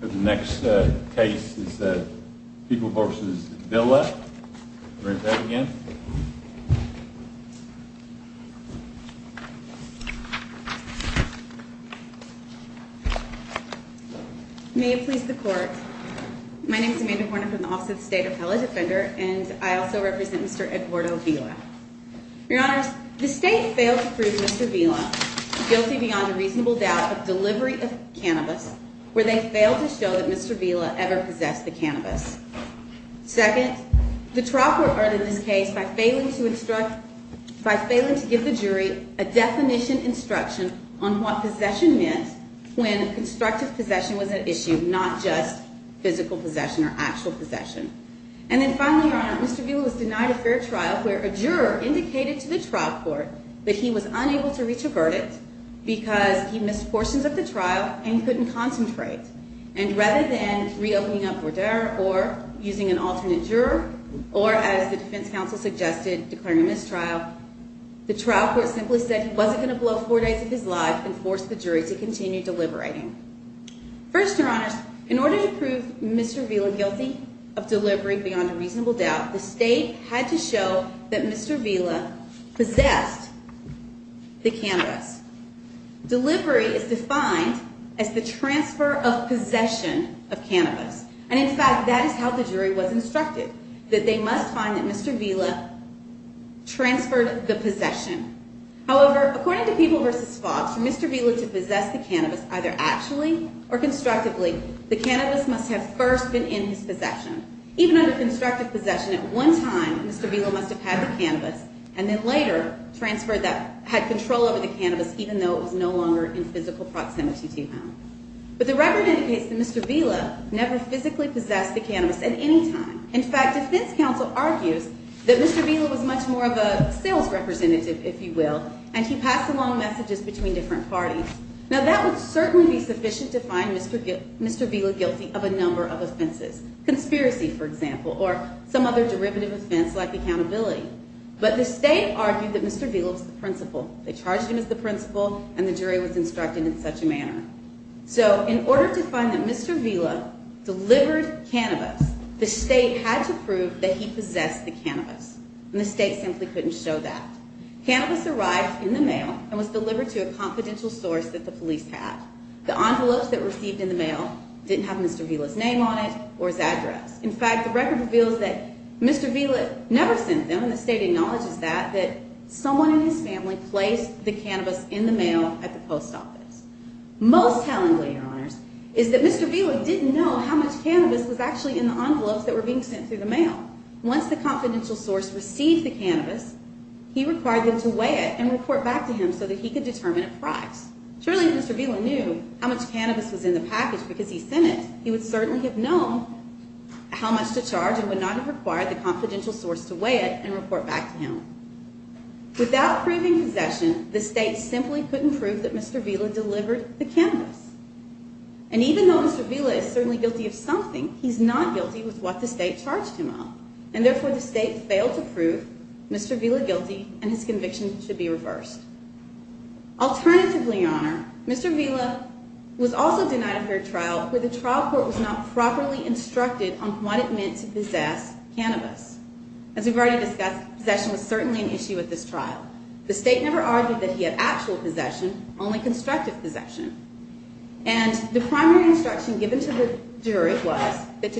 The next case is People v. Vela. May it please the court. My name is Amanda Horner from the Office of the State Appellate Defender and I also represent Mr. Eduardo Vela. Your Honor, the state failed to prove Mr. Vela guilty beyond a reasonable doubt of delivery of cannabis, where they failed to show that Mr. Vela ever possessed the cannabis. Second, the trough were earned in this case by failing to give the jury a definition instruction on what possession meant when constructive possession was at issue, not just physical possession or actual possession. And then finally, Your Honor, Mr. Vela was denied a fair trial where a juror indicated to the trial court that he was unable to reach a verdict because he missed portions of the trial and couldn't concentrate. And rather than reopening up Verdera or using an alternate juror, or as the defense counsel suggested, declaring a mistrial, the trial court simply said he wasn't going to blow four days of his life and forced the jury to continue deliberating. First, Your Honors, in order to prove Mr. Vela guilty of delivery beyond a reasonable doubt, the state had to show that Mr. Vela possessed the cannabis. Delivery is defined as the transfer of possession of cannabis. And in fact, that is how the jury was instructed, that they must find that Mr. Vela transferred the possession. However, according to People v. Fox, for Mr. Vela to possess the cannabis either actually or constructively, the cannabis must have first been in his possession. Even under constructive possession, at one time, Mr. Vela must have had the cannabis and then later transferred that, had control over the cannabis even though it was no longer in physical proximity to him. But the record indicates that Mr. Vela never physically possessed the cannabis at any time. In fact, defense counsel argues that Mr. Vela was much more of a sales representative, if you will, and he passed along messages between different parties. Now, that would certainly be sufficient to find Mr. Vela guilty of a number of offenses, conspiracy, for example, or some other derivative offense like accountability. But the state argued that Mr. Vela was the principal. They charged him as the principal, and the jury was instructed in such a manner. So, in order to find that Mr. Vela delivered cannabis, the state had to prove that he possessed the cannabis, and the state simply couldn't show that. Cannabis arrived in the mail and was delivered to a confidential source that the police had. The envelopes that were received in the mail didn't have Mr. Vela's name on it or his address. In fact, the record reveals that Mr. Vela never sent them, and the state acknowledges that, that someone in his family placed the cannabis in the mail at the post office. Most tellingly, Your Honors, is that Mr. Vela didn't know how much cannabis was actually in the envelopes that were being sent through the mail. Once the confidential source received the cannabis, he required them to weigh it and report back to him so that he could determine a price. Surely, if Mr. Vela knew how much cannabis was in the package because he sent it, he would certainly have known how much to charge and would not have required the confidential source to weigh it and report back to him. Without proving possession, the state simply couldn't prove that Mr. Vela delivered the cannabis. And even though Mr. Vela is certainly guilty of something, he's not guilty with what the state charged him of, and therefore the state failed to prove Mr. Vela guilty and his conviction should be reversed. Alternatively, Your Honor, Mr. Vela was also denied a fair trial where the trial court was not properly instructed on what it meant to possess cannabis. As we've already discussed, possession was certainly an issue at this trial. The state never argued that he had actual possession, only constructive possession. And the primary instruction given to the jury was that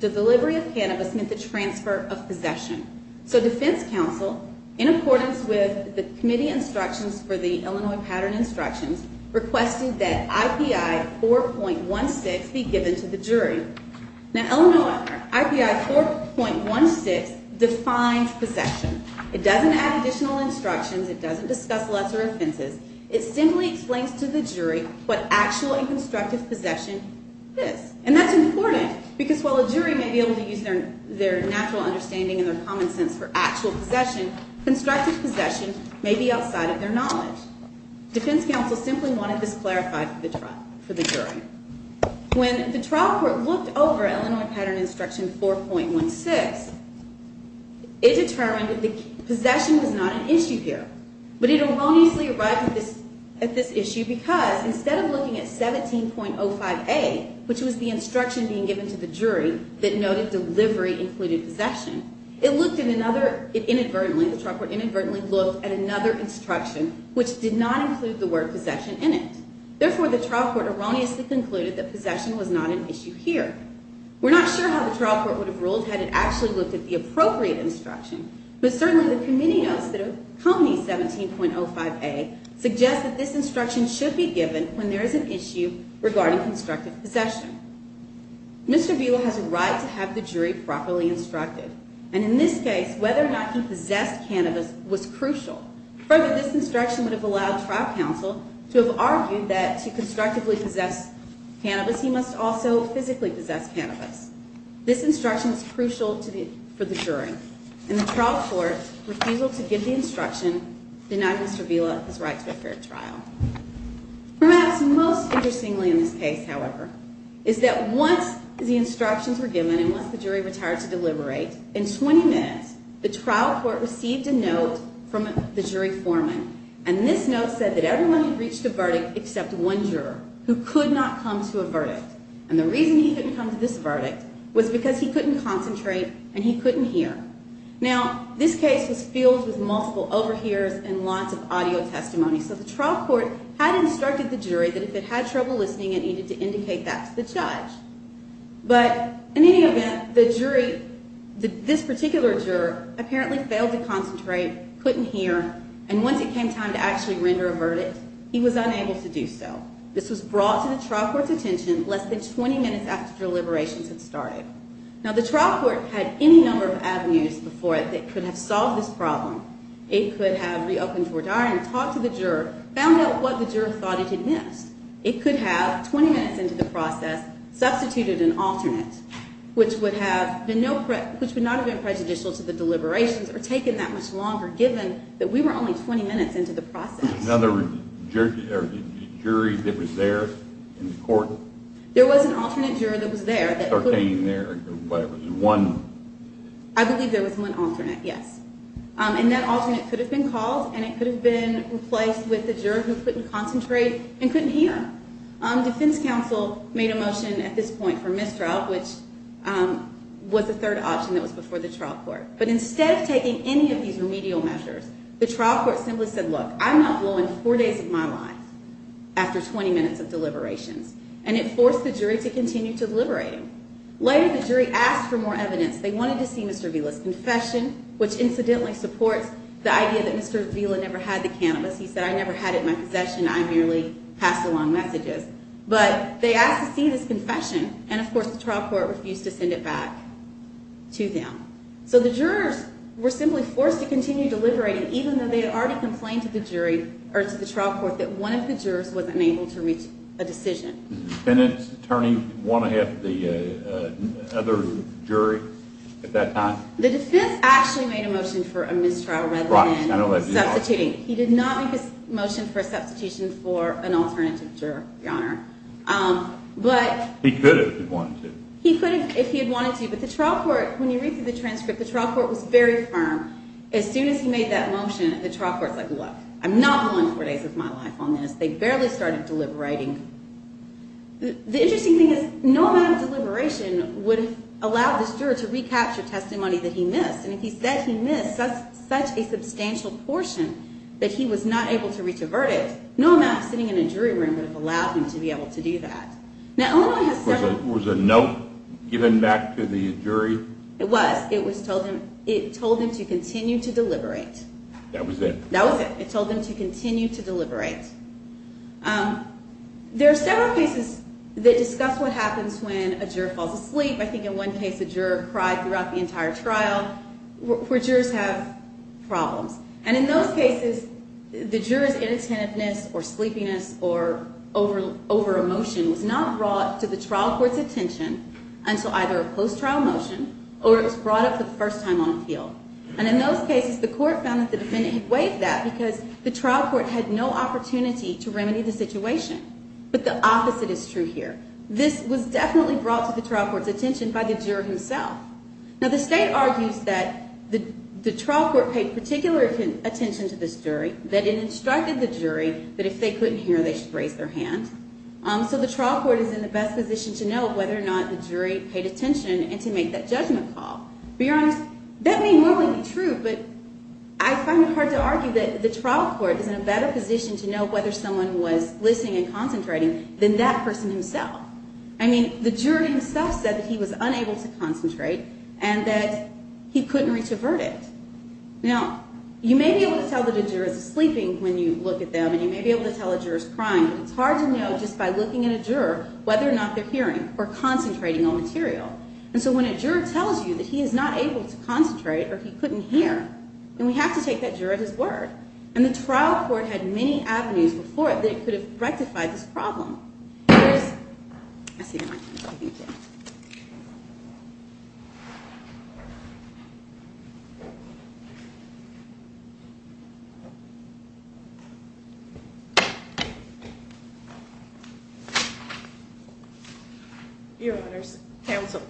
the delivery of cannabis meant the transfer of possession. So defense counsel, in accordance with the committee instructions for the Illinois Pattern Instructions, requested that IPI 4.16 be given to the jury. Now Illinois IPI 4.16 defines possession. It doesn't add additional instructions, it doesn't discuss lesser offenses. It simply explains to the jury what actual and constructive possession is. And that's important because while a jury may be able to use their natural understanding and their common sense for actual possession, constructive possession may be outside of their knowledge. Defense counsel simply wanted this clarified for the jury. When the trial court looked over Illinois Pattern Instruction 4.16, it determined that possession was not an issue here. But it erroneously arrived at this issue because instead of looking at 17.05a, which was the instruction being given to the jury that noted delivery included possession, it inadvertently looked at another instruction which did not include the word possession in it. Therefore, the trial court erroneously concluded that possession was not an issue here. We're not sure how the trial court would have ruled had it actually looked at the appropriate instruction. But certainly the committee notes that a company 17.05a suggests that this instruction should be given when there is an issue regarding constructive possession. Mr. Buell has a right to have the jury properly instructed. And in this case, whether or not he possessed cannabis was crucial. Further, this instruction would have allowed trial counsel to have argued that to constructively possess cannabis, he must also physically possess cannabis. This instruction is crucial for the jury. And the trial court's refusal to give the instruction denied Mr. Buell his right to a fair trial. Perhaps most interestingly in this case, however, is that once the instructions were given and once the jury retired to deliberate, in 20 minutes, the trial court received a note from the jury foreman. And this note said that everyone had reached a verdict except one juror who could not come to a verdict. And the reason he couldn't come to this verdict was because he couldn't concentrate and he couldn't hear. Now, this case was filled with multiple overhears and lots of audio testimony. So the trial court had instructed the jury that if it had trouble listening, it needed to indicate that to the judge. But in any event, the jury, this particular juror, apparently failed to concentrate, couldn't hear. And once it came time to actually render a verdict, he was unable to do so. This was brought to the trial court's attention less than 20 minutes after deliberations had started. Now, the trial court had any number of avenues before it that could have solved this problem. It could have reopened your diary and talked to the juror, found out what the juror thought he had missed. It could have, 20 minutes into the process, substituted an alternate, which would not have been prejudicial to the deliberations or taken that much longer, given that we were only 20 minutes into the process. There was an alternate juror that was there. I believe there was one alternate, yes. And that alternate could have been called and it could have been replaced with the juror who couldn't concentrate and couldn't hear. Defense counsel made a motion at this point for mistrial, which was the third option that was before the trial court. But instead of taking any of these remedial measures, the trial court simply said, look, I'm not blowing four days of my life after 20 minutes of deliberations. And it forced the jury to continue to deliberate. Later, the jury asked for more evidence. They wanted to see Mr. Vila's confession, which incidentally supports the idea that Mr. Vila never had the cannabis. He said, I never had it in my possession. I merely passed along messages. But they asked to see this confession. And of course, the trial court refused to send it back to them. So the jurors were simply forced to continue deliberating, even though they had already complained to the jury or to the trial court that one of the jurors wasn't able to reach a decision. The defense actually made a motion for a mistrial rather than substituting. He did not make a motion for a substitution for an alternative juror, Your Honor. He could have if he wanted to. But when you read through the transcript, the trial court was very firm. As soon as he made that motion, the trial court was like, look, I'm not blowing four days of my life on this. They barely started deliberating. The interesting thing is, no amount of deliberation would have allowed the juror to recapture testimony that he missed. And if he said he missed such a substantial portion that he was not able to reach a verdict, no amount of sitting in a jury room would have allowed him to be able to do that. Was a note given back to the jury? It was. It told him to continue to deliberate. That was it? That was it. It told him to continue to deliberate. There are several cases that discuss what happens when a juror falls asleep. I think in one case a juror cried throughout the entire trial where jurors have problems. And in those cases, the juror's inattentiveness or sleepiness or overemotion was not brought to the trial court's attention until either a post-trial motion or it was brought up for the first time on appeal. And in those cases, the court found that the defendant had waived that because the trial court had no opportunity to remedy the situation. But the opposite is true here. This was definitely brought to the trial court's attention by the juror himself. Now, the state argues that the trial court paid particular attention to this jury, that it instructed the jury that if they couldn't hear, they should raise their hand. So the trial court is in the best position to know whether or not the jury paid attention and to make that judgment call. To be honest, that may not be true, but I find it hard to argue that the trial court is in a better position to know whether someone was listening and concentrating than that person himself. I mean, the jury himself said that he was unable to concentrate and that he couldn't reach a verdict. Now, you may be able to tell that a juror is sleeping when you look at them, and you may be able to tell a juror is crying, but it's hard to know just by looking at a juror whether or not they're hearing or concentrating on material. And so when a juror tells you that he is not able to concentrate or he couldn't hear, then we have to take that juror at his word. And the trial court had many avenues before that it could have rectified this problem. Your Honor, counsel,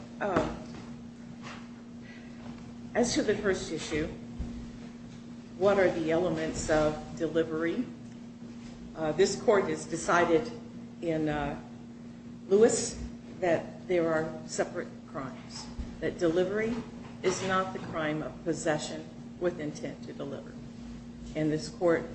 as to the first issue, what are the elements of delivery? This court has decided in Lewis that there are separate crimes, that delivery is not the crime of possession with intent to deliver. And this court's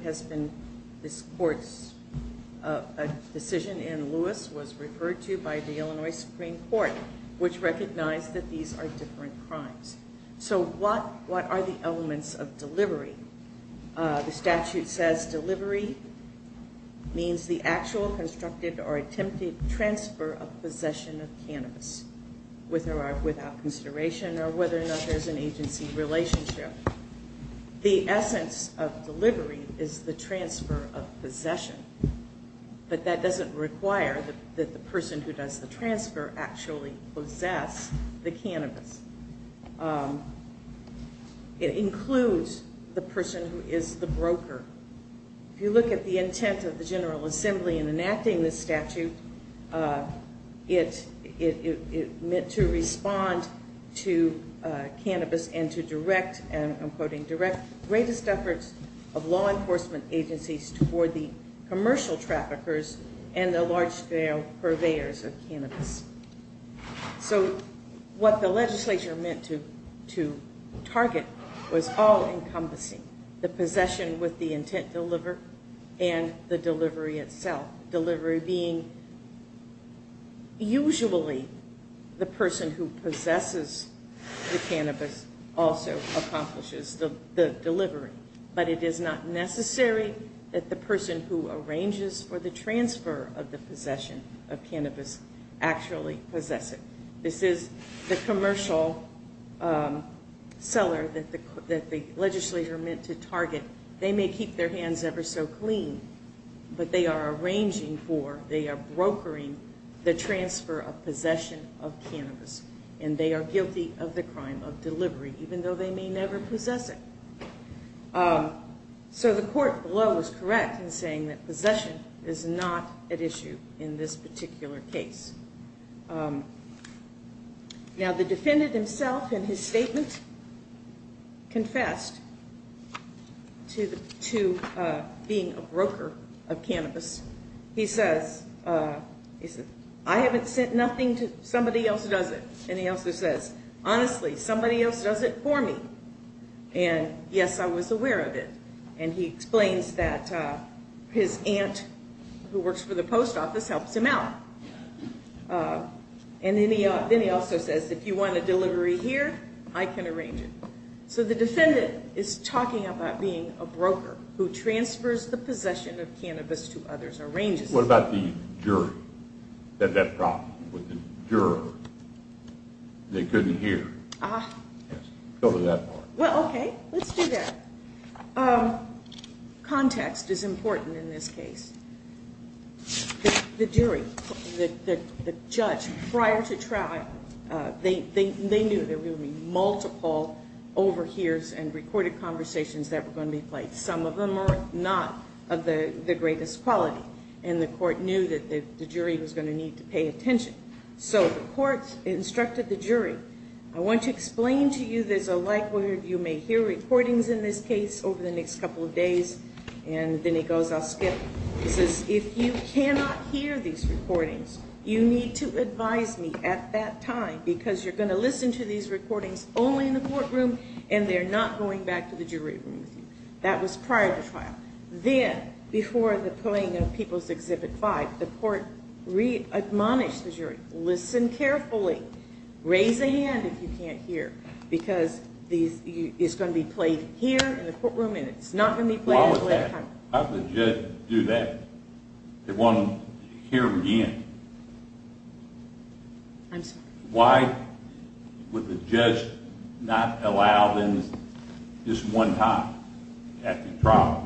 decision in Lewis was referred to by the Illinois Supreme Court, which recognized that these are different crimes. So what are the elements of delivery? The statute says delivery means the actual constructed or attempted transfer of possession of cannabis, with or without consideration or whether or not there's an agency relationship. The essence of delivery is the transfer of possession, but that doesn't require that the person who does the transfer actually possess the cannabis. It includes the person who is the broker. If you look at the intent of the General Assembly in enacting this statute, it meant to respond to cannabis and to direct, I'm quoting, direct the greatest efforts of law enforcement agencies toward the commercial traffickers and the large scale purveyors of cannabis. So what the legislature meant to target was all encompassing, the possession with the intent to deliver and the delivery itself. Delivery being usually the person who possesses the cannabis also accomplishes the delivery. But it is not necessary that the person who arranges for the transfer of the possession of cannabis actually possess it. This is the commercial seller that the legislature meant to target. They may keep their hands ever so clean, but they are arranging for, they are brokering the transfer of possession of cannabis and they are guilty of the crime of delivery, even though they may never possess it. So the court below is correct in saying that possession is not at issue in this particular case. Now the defendant himself in his statement confessed to being a broker of cannabis. He says, I haven't sent nothing to, somebody else does it. And he also says, honestly, somebody else does it for me. And yes, I was aware of it. And he explains that his aunt who works for the post office helps him out. And then he also says, if you want a delivery here, I can arrange it. So the defendant is talking about being a broker who transfers the possession of cannabis to others, arranges it. What about the jury? That that problem with the juror, they couldn't hear. Go to that part. Context is important in this case. The jury, the judge prior to trial, they knew there would be multiple overhears and recorded conversations that were going to be played. Some of them are not of the greatest quality. And the court knew that the jury was going to need to pay attention. So the court instructed the jury, I want to explain to you there's a likelihood you may hear recordings in this case over the next couple of days. And then he goes, I'll skip. He says, if you cannot hear these recordings, you need to advise me at that time because you're going to listen to these recordings only in the courtroom and they're not going back to the jury room. That was prior to trial. Then, before the playing of People's Exhibit 5, the court re-admonished the jury, listen carefully. Raise a hand if you can't hear because it's going to be played here in the courtroom and it's not going to be played at a later time. Why would the judge do that? They want to hear again. I'm sorry. Why would the judge not allow them just one time at the trial?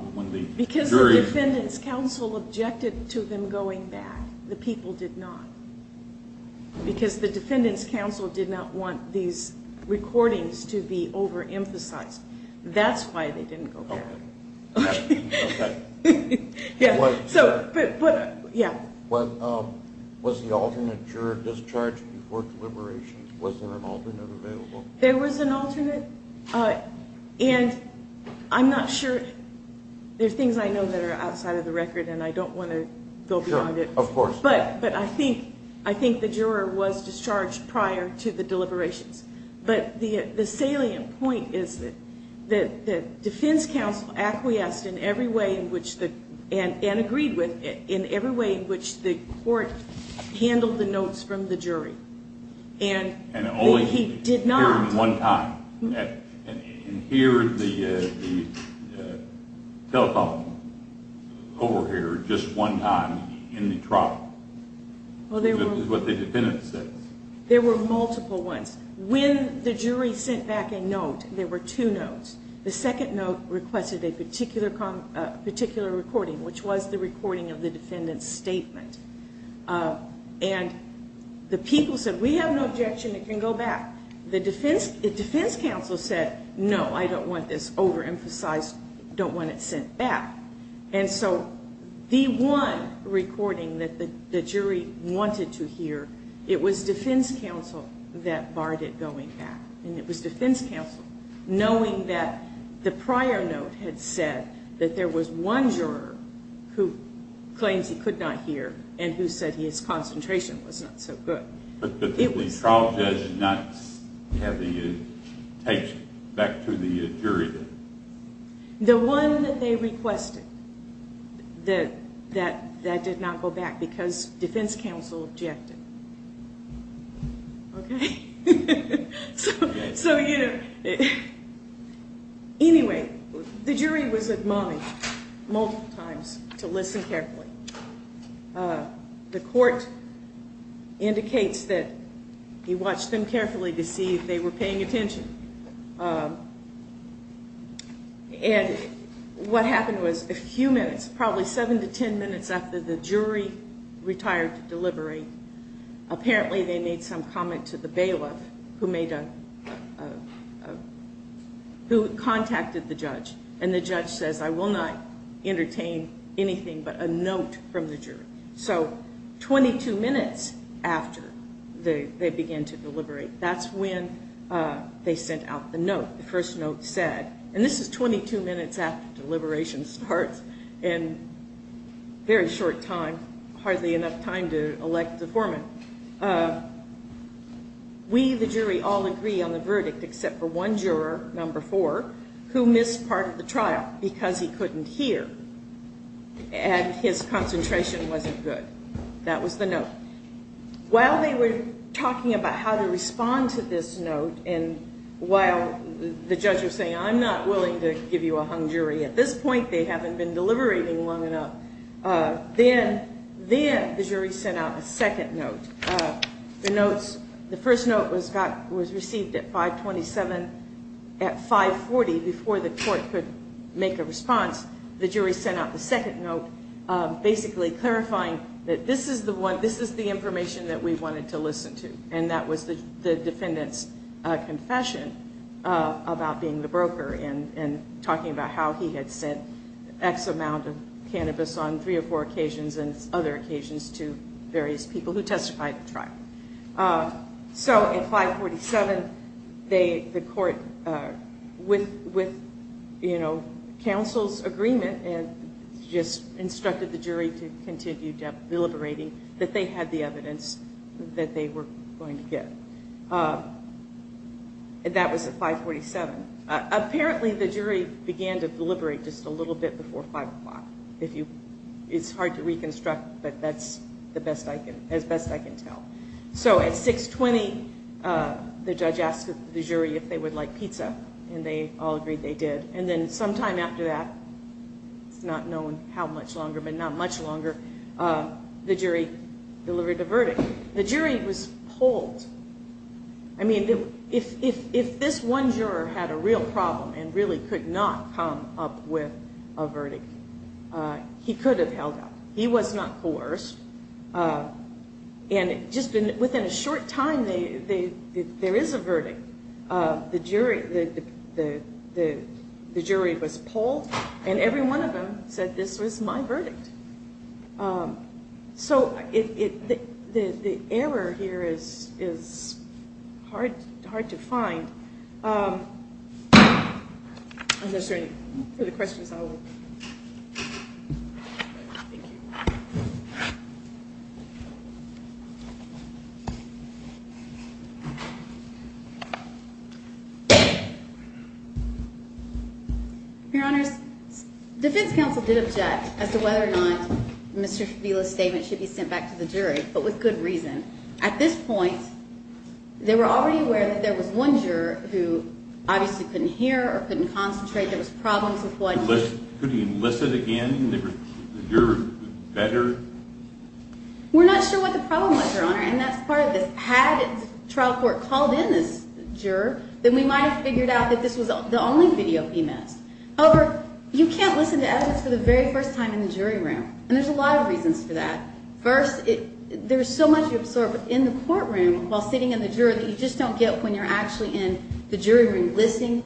Because the defendant's counsel objected to them going back. The people did not. Because the defendant's counsel did not want these recordings to be overemphasized. That's why they didn't go back. Was the alternate juror discharged before deliberations? Was there an alternate available? There was an alternate and I'm not sure. There's things I know that are outside of the record and I don't want to go beyond it. But I think the juror was discharged prior to the deliberations. But the salient point is that the defense counsel acquiesced in every way, and agreed with, in every way in which the court handled the notes from the jury. And only he did not hear them one time. And hear the telephone over here just one time in the trial is what the defendant says. There were multiple ones. When the jury sent back a note, there were two notes. The second note requested a particular recording, which was the recording of the defendant's statement. And the people said, we have no objection, it can go back. The defense counsel said, no, I don't want this overemphasized, don't want it sent back. And so the one recording that the jury wanted to hear, it was defense counsel that barred it going back. And it was defense counsel knowing that the prior note had said that there was one juror who claims he could not hear, and who said his concentration was not so good. But the trial judge did not have the tape back to the jury? The one that they requested, that did not go back because defense counsel objected. Okay? So, you know, anyway, the jury was admonished multiple times to listen carefully. The court indicates that he watched them carefully to see if they were paying attention. And what happened was a few minutes, probably seven to ten minutes after the jury retired to deliberate, apparently they made some comment to the bailiff who contacted the judge. And the judge says, I will not entertain anything but a note from the jury. So 22 minutes after they began to deliberate, that's when they sent out the note. The first note said, and this is 22 minutes after deliberation starts, and very short time, hardly enough time to elect a foreman. We, the jury, all agree on the verdict except for one juror, number four, who missed part of the trial because he couldn't hear. And his concentration wasn't good. That was the note. While they were talking about how to respond to this note, and while the judge was saying, I'm not willing to give you a hung jury at this point, they haven't been deliberating long enough, then the jury sent out a second note. The first note was received at 527. At 540, before the court could make a response, the jury sent out the second note, basically clarifying that this is the information that we wanted to listen to. And that was the defendant's confession about being the broker and talking about how he had sent X amount of cannabis on three or four occasions and other occasions to various people who testified at the trial. So at 547, they, the court, with, you know, counsel's agreement, just instructed the jury to continue deliberating that they had the evidence that they were going to get. And that was at 547. Apparently, the jury began to deliberate just a little bit before 5 o'clock. If you, it's hard to reconstruct, but that's the best I can, as best I can tell. So at 620, the judge asked the jury if they would like pizza, and they all agreed they did. And then sometime after that, it's not known how much longer, but not much longer, the jury delivered a verdict. The jury was polled. I mean, if this one juror had a real problem and really could not come up with a verdict, he could have held up. He was not coerced. And just within a short time, there is a verdict. The jury was polled, and every one of them said, this was my verdict. So the error here is hard to find. I'm just ready for the questions. Thank you. Your Honor, the defense counsel did object as to whether or not Mr. Fila's statement should be sent back to the jury, but with good reason. At this point, they were already aware that there was one juror who obviously couldn't hear or couldn't concentrate. There was problems with one. Could he enlist it again and the jury would be better? We're not sure what the problem was, Your Honor, and that's part of this. Had the trial court called in this juror, then we might have figured out that this was the only video he missed. However, you can't listen to evidence for the very first time in the jury room, and there's a lot of reasons for that. First, there's so much you absorb in the courtroom while sitting in the juror that you just don't get when you're actually in the jury room and listening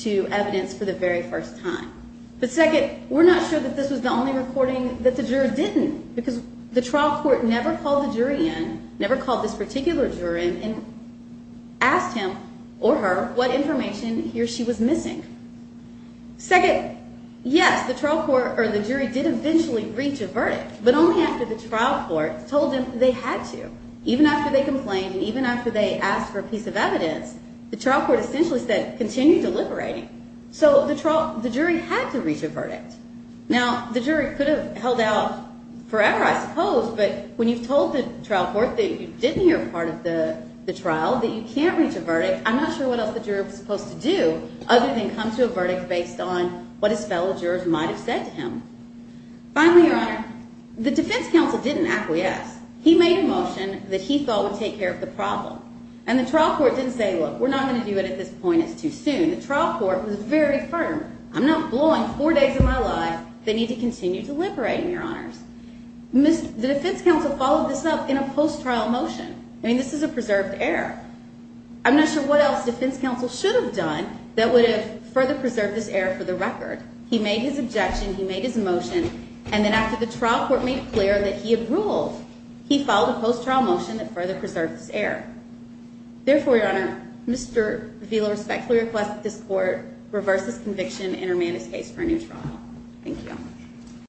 to evidence for the very first time. But second, we're not sure that this was the only recording that the juror didn't because the trial court never called the jury in, never called this particular juror in and asked him or her what information he or she was missing. Second, yes, the trial court or the jury did eventually reach a verdict, but only after the trial court told them they had to. Even after they complained and even after they asked for a piece of evidence, the trial court essentially said, continue deliberating, so the jury had to reach a verdict. Now, the jury could have held out forever, I suppose, but when you've told the trial court that you didn't hear part of the trial, that you can't reach a verdict, I'm not sure what else the juror was supposed to do other than come to a verdict based on what his fellow jurors might have said to him. Finally, Your Honor, the defense counsel didn't acquiesce. He made a motion that he thought would take care of the problem. And the trial court didn't say, look, we're not going to do it at this point. It's too soon. The trial court was very firm. I'm not blowing four days of my life. They need to continue deliberating, Your Honors. The defense counsel followed this up in a post-trial motion. I mean, this is a preserved error. I'm not sure what else the defense counsel should have done that would have further preserved this error for the record. He made his objection. He made his motion. And then after the trial court made clear that he had ruled, he followed a post-trial motion that further preserved this error. Therefore, Your Honor, Mr. Vila respectfully requests that this court reverse his conviction and remand his case for a new trial. Thank you.